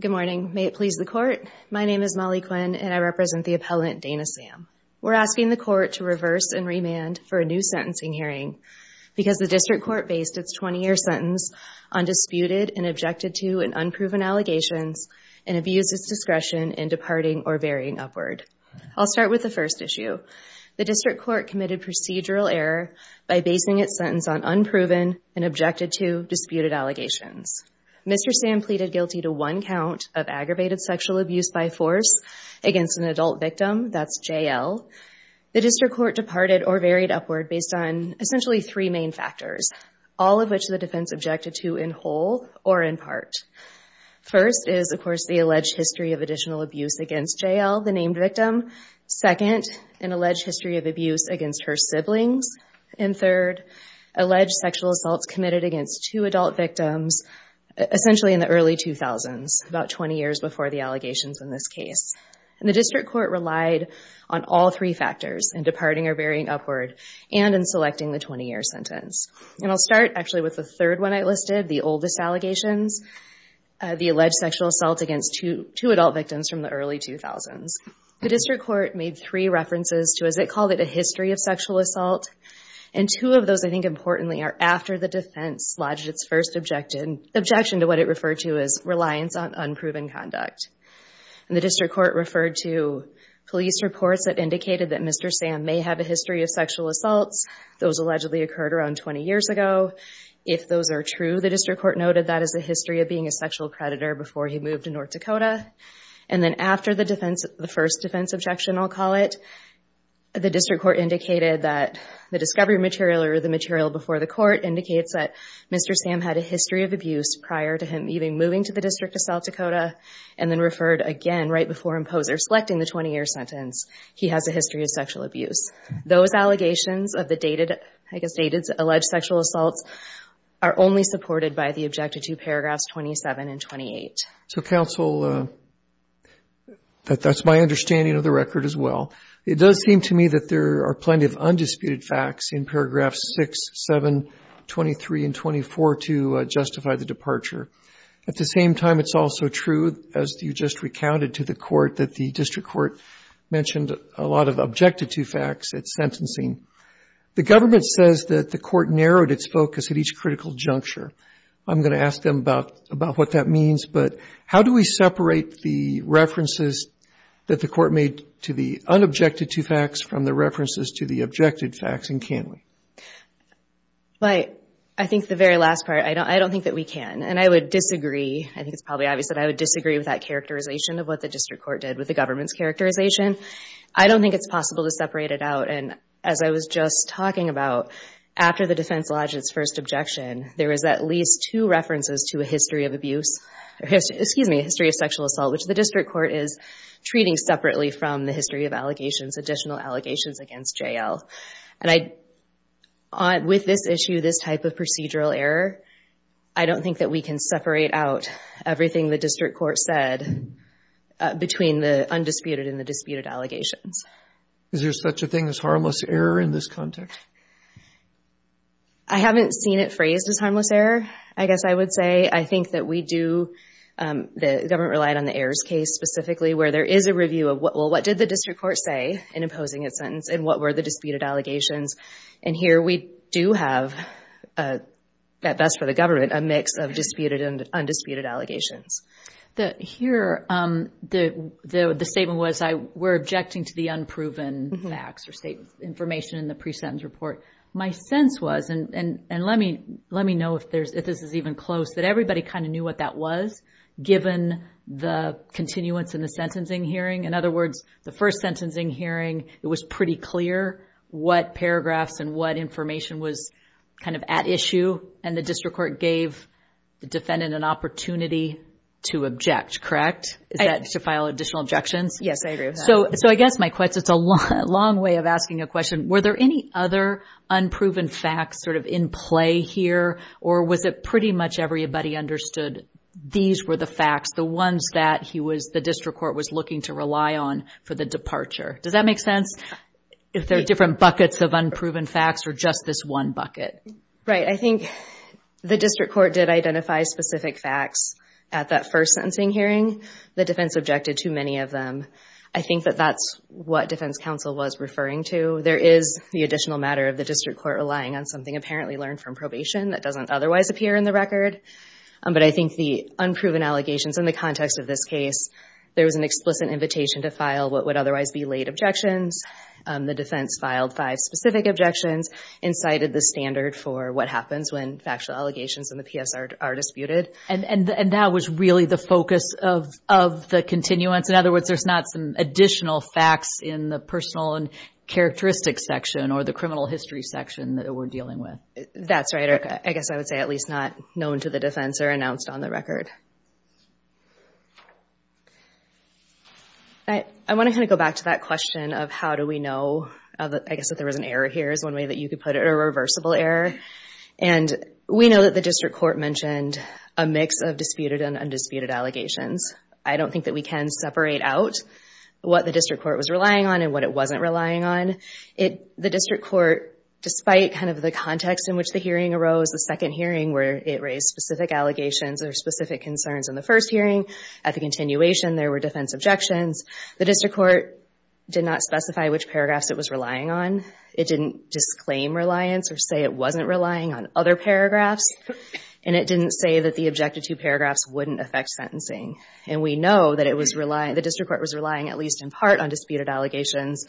Good morning. May it please the court. My name is Molly Quinn and I represent the appellant Dana Sam. We're asking the court to reverse and remand for a new sentencing hearing because the district court based its 20-year sentence on disputed and objected to and unproven allegations and abused its discretion in departing or burying upward. I'll start with the first procedural error by basing its sentence on unproven and objected to disputed allegations. Mr. Sam pleaded guilty to one count of aggravated sexual abuse by force against an adult victim, that's JL. The district court departed or buried upward based on essentially three main factors, all of which the defense objected to in whole or in part. First is of course the alleged history of additional abuse against JL, the named victim. Second, an alleged history of abuse against her siblings. And third, alleged sexual assaults committed against two adult victims essentially in the early 2000s, about 20 years before the allegations in this case. And the district court relied on all three factors, in departing or burying upward and in selecting the 20-year sentence. And I'll start actually with the third one I listed, the oldest allegations, the alleged sexual assault against two adult victims from the early 2000s. The district court made three references to, as they called it, a history of sexual assault. And two of those, I think importantly, are after the defense lodged its first objection to what it referred to as reliance on unproven conduct. And the district court referred to police reports that indicated that Mr. Sam may have a history of sexual assaults. Those allegedly occurred around 20 years ago. If those are true, the district court noted that as a history of being a sexual predator before he moved to North Dakota. And then after the first defense objection, I'll call it, the district court indicated that the discovery material or the material before the court indicates that Mr. Sam had a history of abuse prior to him even moving to the District of South Dakota and then referred again right before imposing or selecting the 20-year sentence, he has a history of sexual abuse. Those allegations of the dated, I guess dated, alleged sexual assaults are only supported by the objective two paragraphs 27 and 28. So counsel, that's my understanding of the record as well. It does seem to me that there are plenty of undisputed facts in paragraphs 6, 7, 23, and 24 to justify the departure. At the same time, it's also true, as you just recounted to the court, that the district court mentioned a lot of objective two facts at sentencing. The government says that the court narrowed its focus at each critical juncture. I'm going to ask them about what that means, but how do we separate the references that the court made to the unobjected two facts from the references to the objected facts, and can we? I think the very last part, I don't think that we can, and I would disagree. I think it's probably obvious that I would disagree with that characterization of what the district court did with the government's characterization. I don't think it's possible to separate it out, and as I was just talking about, after the defense lodged its first objection, there is at least two references to a history of abuse, excuse me, a history of sexual assault, which the district court is treating separately from the history of allegations, additional allegations against J.L. And with this issue, this type of procedural error, I don't think that we can separate out everything the district court said between the undisputed and the disputed allegations. Is there such a thing as harmless error in this context? I haven't seen it phrased as harmless error, I guess I would say. I think that we do, the government relied on the Ayers case specifically, where there is a review of, well, what did the district court say in imposing its sentence, and what were the disputed allegations? And here we do have, at best for the government, a mix of disputed and undisputed allegations. Here, the statement was, we're objecting to the unproven facts or state information in the pre-sentence report. My sense was, and let me know if this is even close, that everybody kind of knew what that was, given the continuance in the sentencing hearing. In other words, the first sentencing hearing, it was pretty clear what paragraphs and what information was kind of at issue, and the district court gave the defendant an opportunity to object, correct? Is that to file additional objections? Yes, I agree with that. So I guess my question, it's a long way of asking a question, were there any other unproven facts sort of in play here, or was it pretty much everybody understood these were the facts, the ones that the district court was looking to rely on for the departure? Does that make sense? If there are different buckets of unproven facts, or just this one bucket? Right, I think the district court did identify specific facts at that first sentencing hearing. The defense objected to many of them. I think that that's what defense counsel was referring to. There is the additional matter of the district court relying on something apparently learned from probation that doesn't otherwise appear in the record, but I think the unproven allegations in the context of this case, there was an explicit invitation to file what would otherwise be late objections. The defense filed five specific objections and cited the standard for what happens when factual allegations in the PSR are disputed. And that was really the focus of the continuance? In other words, there's not some additional facts in the personal and characteristics section or the criminal history section that we're dealing with? That's right. I guess I would say at least not known to the defense or announced on the record. I want to kind of go back to that question of how do we know, I guess, that there was an error here is one way that you could put it, a reversible error. And we know that the district court mentioned a mix of disputed and undisputed allegations. I don't think that we can separate out what the district court was relying on and what it wasn't relying on. The district court, despite kind of the context in which the hearing arose, the second hearing where it raised specific allegations or specific concerns in the first hearing, at the continuation there were defense objections, the district court did not specify which paragraphs it was relying on. It didn't disclaim reliance or say it wasn't relying on other paragraphs. And it didn't say that the objected to paragraphs wouldn't affect sentencing. And we know that the district court was relying at least in part on disputed allegations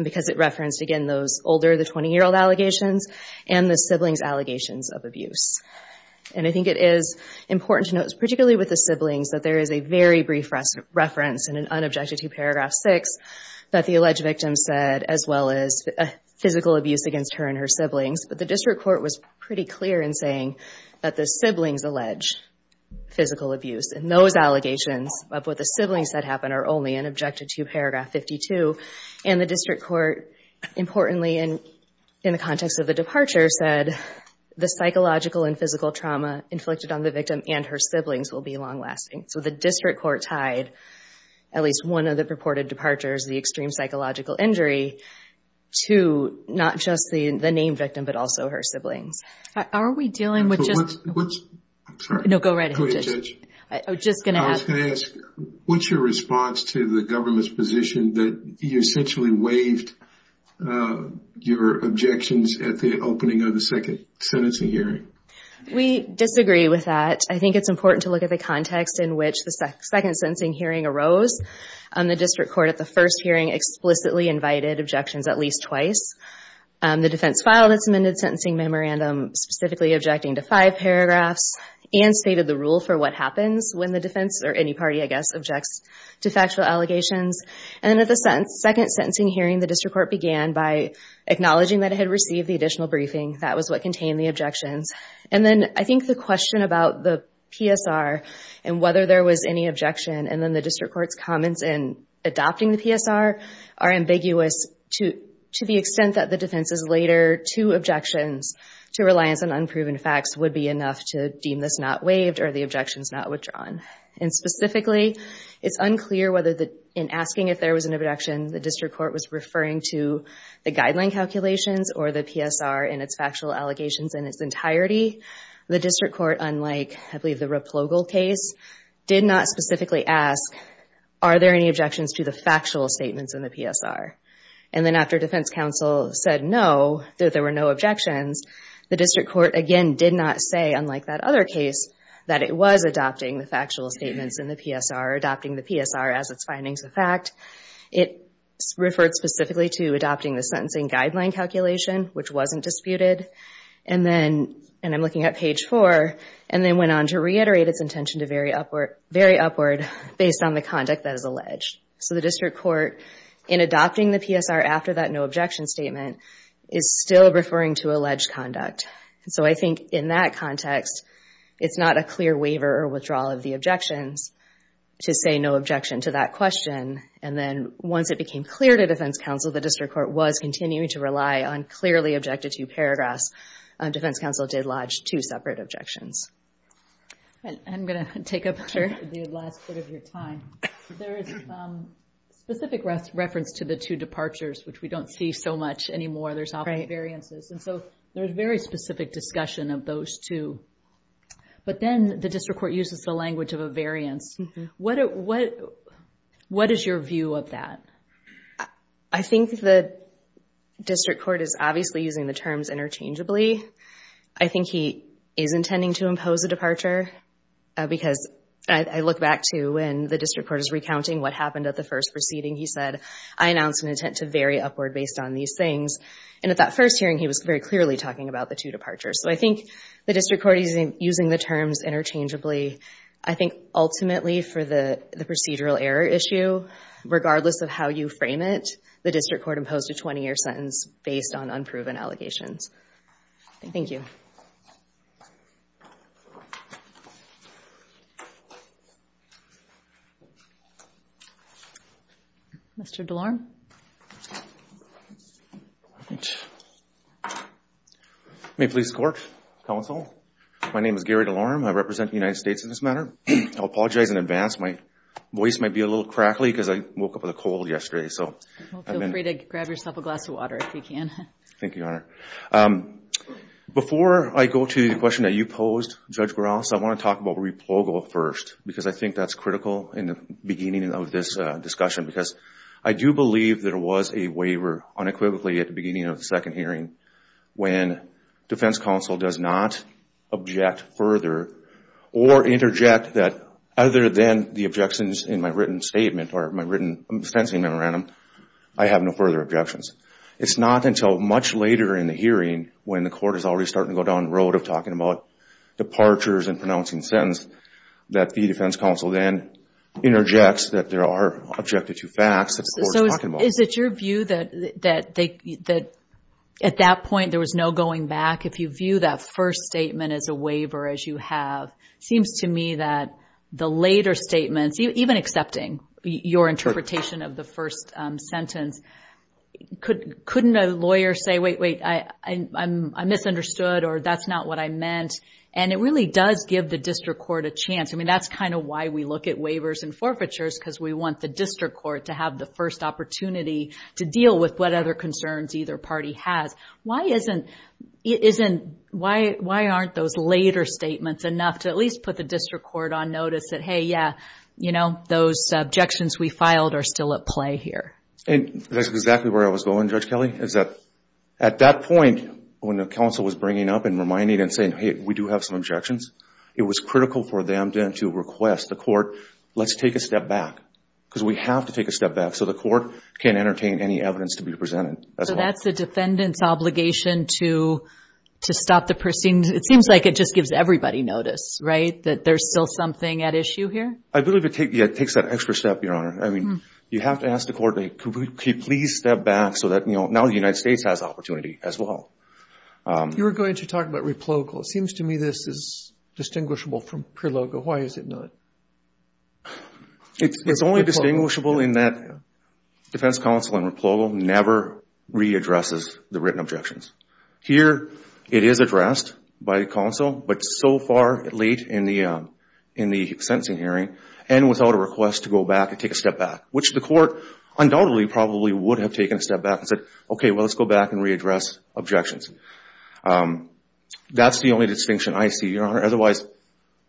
because it referenced, again, those older, the 20-year-old allegations and the siblings' allegations of abuse. And I think it is important to note, particularly with the siblings, that there is a very brief reference in an unobjected to paragraph 6 that the alleged victim said, as well as physical abuse against her and her siblings. But the district court was pretty clear in saying that the siblings allege physical abuse. And those allegations of what the siblings said happen are only in objected to paragraph 52. And the district court, importantly in the context of the departure, said the psychological and physical trauma inflicted on the victim and her siblings will be long-lasting. So the district court tied at least one of the purported departures, the extreme psychological injury, to not just the named victim, but also her siblings. Are we dealing with just... What's... I'm sorry. No, go right ahead. Please judge. I was just going to ask... I was going to ask, what's your response to the government's position that you essentially waived your objections at the opening of the second sentencing hearing? We disagree with that. I think it's important to look at the context in which the second sentencing hearing arose. The district court at the first hearing explicitly invited objections at least twice. The defense filed its amended sentencing memorandum specifically objecting to five paragraphs and stated the rule for what happens when the defense, or any party, I guess, objects to factual allegations. And at the second sentencing hearing, the district court began by acknowledging that it had received the additional briefing. That was what contained the objections. And then I think the question about the PSR and whether there was any objection, and then the district court's comments in adopting the PSR are ambiguous to the extent that the defense's later two objections to reliance on unproven facts would be enough to deem this not waived or the objections not withdrawn. And specifically, it's unclear whether in asking if there was an objection, the district court was referring to the guideline calculations or the PSR and its factual allegations in its entirety. The district court, unlike, I believe, the Replogal case, did not specifically ask, are there any objections to the factual statements in the PSR? And then after defense counsel said no, that there were no objections, the district court, again, did not say, unlike that other case, that it was adopting the factual statements in the PSR, adopting the PSR as its findings of fact. It referred specifically to adopting the sentencing guideline calculation, which wasn't disputed. And then, and I'm looking at page four, and then went on to reiterate its intention to vary upward based on the conduct that is alleged. So the district court, in adopting the PSR after that no objection statement, is still referring to alleged conduct. So I think in that context, it's not a clear waiver or withdrawal of the objections to say no objection to that question. And then once it became clear to defense counsel, the district court was continuing to rely on clearly objected to paragraphs. Defense counsel did lodge two separate objections. And I'm going to take up the last bit of your time. There is some specific reference to the two departures, which we don't see so much anymore. There's often variances. And so there's very specific discussion of those two. But then the district court uses the language of a variance. What is your view of that? I think the district court is obviously using the terms interchangeably. I think he is intending to impose a departure, because I look back to when the district court is recounting what happened at the first proceeding. He said, I announced an intent to vary upward based on these things. And at that first hearing, he was very clearly talking about the two departures. So I think the district court is using the terms interchangeably. I think ultimately for the procedural error issue, regardless of how you frame it, the district court imposed a 20-year sentence based on unproven allegations. Thank you. Mr. DeLorme. May it please the court, counsel. My name is Gary DeLorme. I represent the United States in this matter. I apologize in advance. My voice might be a little crackly, because I woke up with a cold yesterday. So feel free to grab yourself a glass of water if you can. Thank you, Your Honor. Before I go to the question that you posed, Judge Gross, I want to talk about replogo first, because I think that's critical in the beginning of this discussion. Because I do believe there was a waiver unequivocally at the beginning of the second hearing when defense counsel does not object further or interject that other than the objections in my written statement or my written sentencing memorandum, I have no further objections. It's not until much later in the hearing when the court is already starting to go down the road of talking about departures and pronouncing sentence that the defense counsel then interjects that there are objective two facts that the court is talking about. So is it your view that at that point there was no going back? If you view that first statement as a waiver, as you have, it seems to me that the later statements, even accepting your interpretation of the first sentence, couldn't a lawyer say, wait, wait, I misunderstood, or that's not what I meant? And it really does give the district court a chance. I mean, that's kind of why we look at waivers and forfeitures, because we want the district court to have the first opportunity to deal with what other concerns either party has. Why aren't those later statements enough to at least put the district court on notice that, hey, yeah, you know, those objections we filed are still at play here? And that's exactly where I was going, Judge Kelly, is that at that point when the counsel was bringing up and reminding and saying, hey, we do have some objections, it was critical for them then to request the court, let's take a step back, because we have to take a step back so the court can entertain any evidence to be presented. So that's a defendant's obligation to stop the proceedings. It seems like it just gives everybody notice, right, that there's still something at issue here? I believe it takes that extra step, Your Honor. I mean, you have to ask the court, hey, could we please step back so that, you know, now the United States has opportunity as well. You were going to talk about replogal. It seems to me this is distinguishable from prelogal. Why is it not? It's only distinguishable in that defense counsel in replogal never readdresses the written objections. Here it is addressed by counsel, but so far late in the sentencing hearing and without a request to go back and take a step back, which the court undoubtedly probably would have taken a step back and said, okay, well, let's go back and readdress objections. That's the only distinction I see, Your Honor. Otherwise,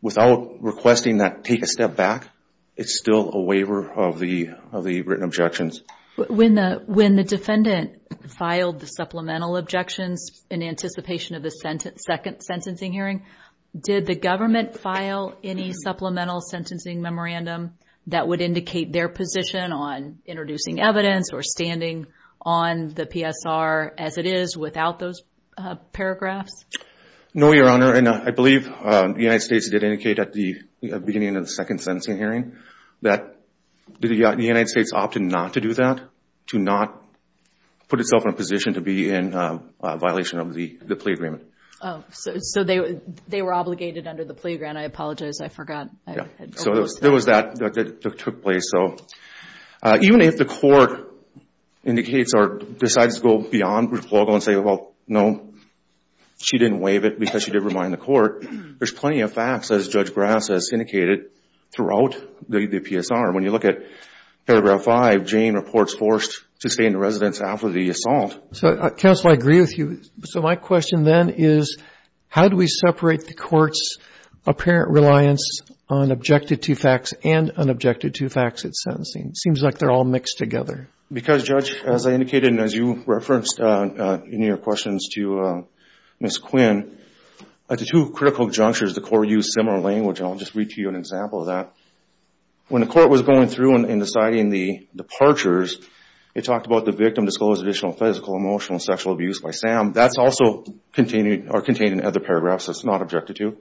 without requesting that take a step back, it's still a waiver of the written objections. When the defendant filed the supplemental objections in anticipation of the second sentencing hearing, did the government file any supplemental sentencing memorandum that would indicate their position on introducing evidence or standing on the PSR as it is without those paragraphs? No, Your Honor, and I believe the United States did indicate at the beginning of the second sentencing hearing that the United States opted not to do that, to not put itself in a position to be in a violation of the plea agreement. Oh, so they were obligated under the plea agreement. I apologize. I forgot. So there was that that took place. So even if the court indicates or decides to go beyond replogal and say, well, no, she didn't waive it because she did remind the court, there's plenty of facts, as Judge Grass has indicated, throughout the PSR. When you look at paragraph five, Jane reports forced to stay in the residence after the assault. So, counsel, I agree with you. So my question then is, how do we separate the court's apparent reliance on objected to facts and unobjected to facts at sentencing? Seems like they're all mixed together. Because, Judge, as I indicated, and as you referenced in your questions to Ms. Quinn, at the two critical junctures, the court used similar language. I'll just read to you an example of that. When the court was going through and deciding the departures, it talked about the victim disclosed additional physical, emotional, sexual abuse by Sam. That's also contained in other paragraphs that's not objected to.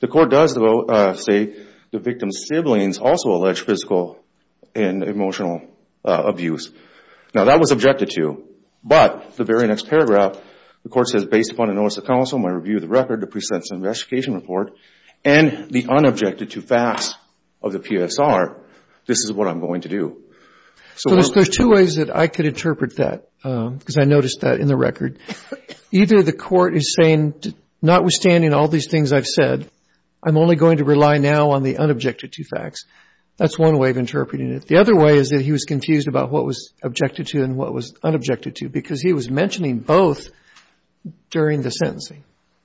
The court does, though, say the victim's siblings also allege physical and emotional abuse. Now, that was objected to. But the very next paragraph, the court says, based upon the notice of counsel, my review of the record, the pre-sentencing and restitution report, and the unobjected to facts of the PSR, this is what I'm going to do. So there's two ways that I could interpret that, because I noticed that in the record. Either the court is saying, notwithstanding all these things I've said, I'm only going to rely now on the unobjected to facts. That's one way of interpreting it. The other way is that he was confused about what was objected to and what was unobjected to, because he was mentioning both during the sentencing.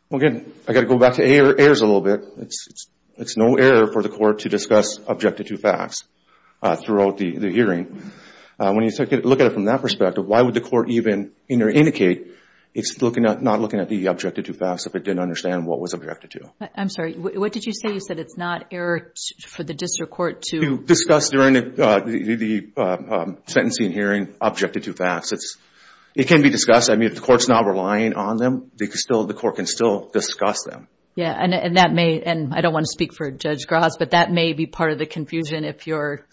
Well, again, I got to go back to errors a little bit. It's no error for the court to discuss objected to facts throughout the hearing. When you look at it from that perspective, why would the court even indicate it's not looking at the objected to facts if it didn't understand what was objected to? I'm sorry. What did you say? You said it's not error for the district court to... To discuss during the sentencing hearing objected to facts. It can be discussed. I mean, if the court's not relying on them, the court can still discuss them. Yeah, and I don't want to speak for Judge Gras, but that may be part of the confusion if you're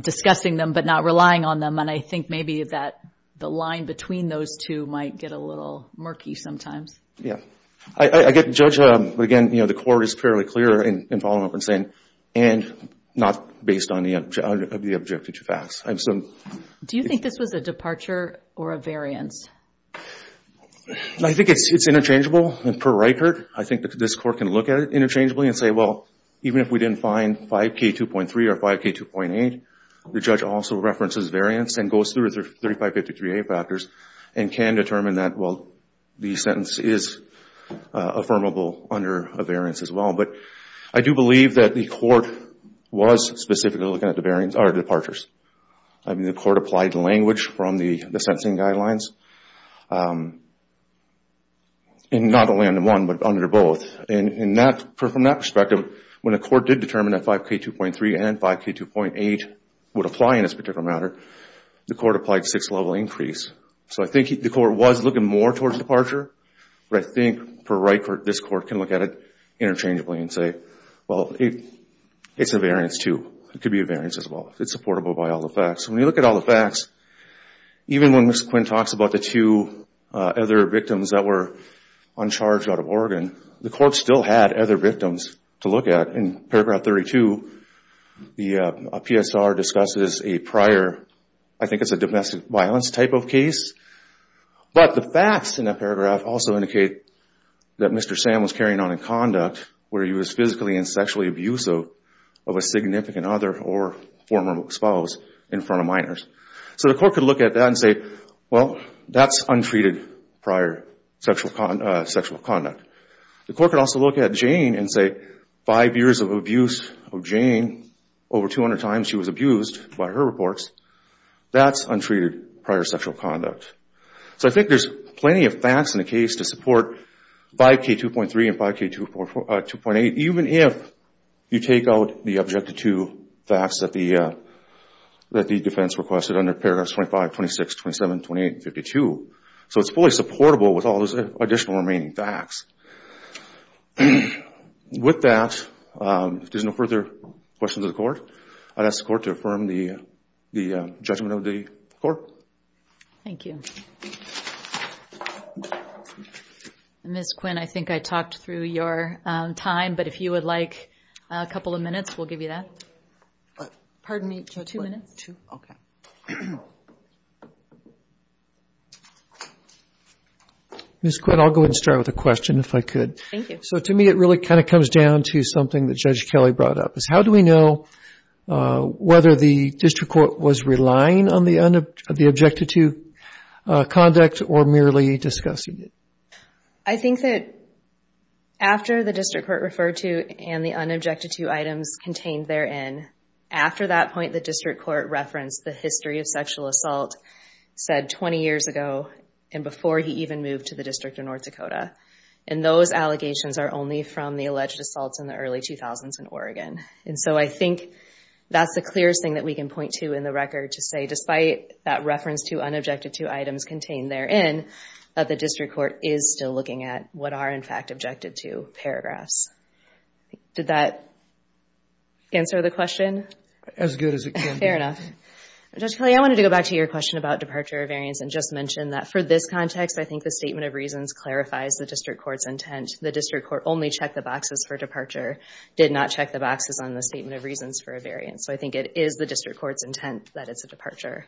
discussing them but not relying on them. And I think maybe that the line between those two might get a little murky sometimes. Yeah. I get Judge, but again, the court is fairly clear in following up and saying, and not based on the objected to facts. Do you think this was a departure or a variance? I think it's interchangeable. And per Reichert, I think that this court can look at it interchangeably and say, well, even if we didn't find 5K2.3 or 5K2.8, the judge also references variance and goes through 3553A factors and can determine that, well, the sentence is affirmable under a variance as well. But I do believe that the court was specifically looking at the variance, or the departures. I mean, the court applied language from the sentencing guidelines, and not only under one, but under both. And from that perspective, when the court did determine that 5K2.3 and 5K2.8 would apply in this particular matter, the court applied a six-level increase. So I think the court was looking more towards departure, but I think, per Reichert, this court can look at it interchangeably and say, well, it's a variance too. It could be a variance as well. It's supportable by all the facts. When you look at all the facts, even when Ms. Quinn talks about the two other victims that were uncharged out of Oregon, the court still had other victims to look at. In paragraph 32, the PSR discusses a prior, I think it's a domestic violence type of case. But the facts in that paragraph also indicate that Mr. Sam was carrying on in conduct where he was physically and sexually abusive of a significant other or former spouse in front of minors. So the court could look at that and say, well, that's untreated prior sexual conduct. The court could also look at Jane and say, five years of abuse of Jane, over 200 times she was abused by her reports. That's untreated prior sexual conduct. So I think there's plenty of facts in the case to support 5K2.3 and 5K2.8, even if you take out the objective two facts that the defense requested under paragraphs 25, 26, 27, 28, and 52. So it's fully supportable with all those additional remaining facts. With that, if there's no further questions of the court, I'll ask the court to affirm the judgment of the court. Thank you. Ms. Quinn, I think I talked through your time, but if you would like a couple of minutes, we'll give you that. Pardon me, Judge? Two minutes. Okay. Ms. Quinn, I'll go ahead and start with a question, if I could. Thank you. So to me, it really kind of comes down to something that Judge Kelly brought up. How do we know whether the district court was relying on the objective two conduct or merely discussing it? I think that after the district court referred to and the unobjective two items contained therein, after that point, the district court referenced the history of sexual assault said 20 years ago and before he even moved to the District of North Dakota. And those allegations are only from the alleged assaults in the early 2000s in Oregon. And so I think that's the clearest thing that we can point to in the record to say, despite that reference to unobjective two items contained therein, that the district court is still looking at what are in fact objective two paragraphs. Did that answer the question? As good as it can be. Fair enough. Judge Kelly, I wanted to go back to your question about departure or variance and just mention that for this context, I think the statement of reasons clarifies the district court's intent. The district court only checked the boxes for departure, did not check the boxes on the statement of reasons for a variance. So I think it is the district court's intent that it's a departure.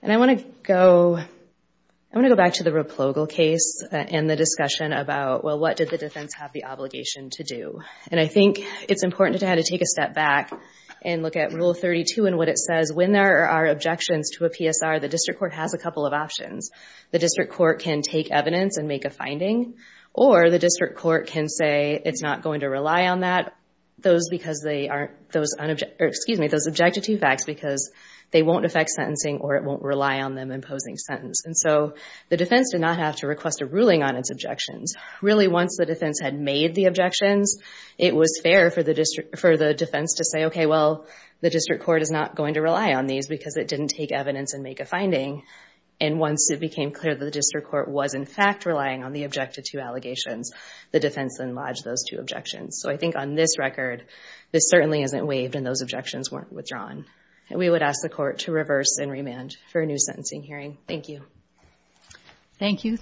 And I want to go back to the Replogal case and the discussion about, well, what did the defense have the obligation to do? And I think it's important to have to take a step back and look at Rule 32 and what it says. When there are objections to a PSR, the district court has a couple of options. The district court can take evidence and make a finding, or the district court can say it's not going to rely on those objective two facts because they won't affect sentencing or it won't rely on them imposing sentence. And so the defense did not have to request a ruling on its objections. Really, once the defense had made the objections, it was fair for the defense to say, OK, well, the district court is not going to rely on these because it didn't take evidence and make a finding. And once it became clear that the district court was, in fact, relying on the objective two allegations, the defense then lodged those two objections. So I think on this record, this certainly isn't waived and those objections weren't withdrawn. And we would ask the court to reverse and remand for a new sentencing hearing. Thank you. Thank you.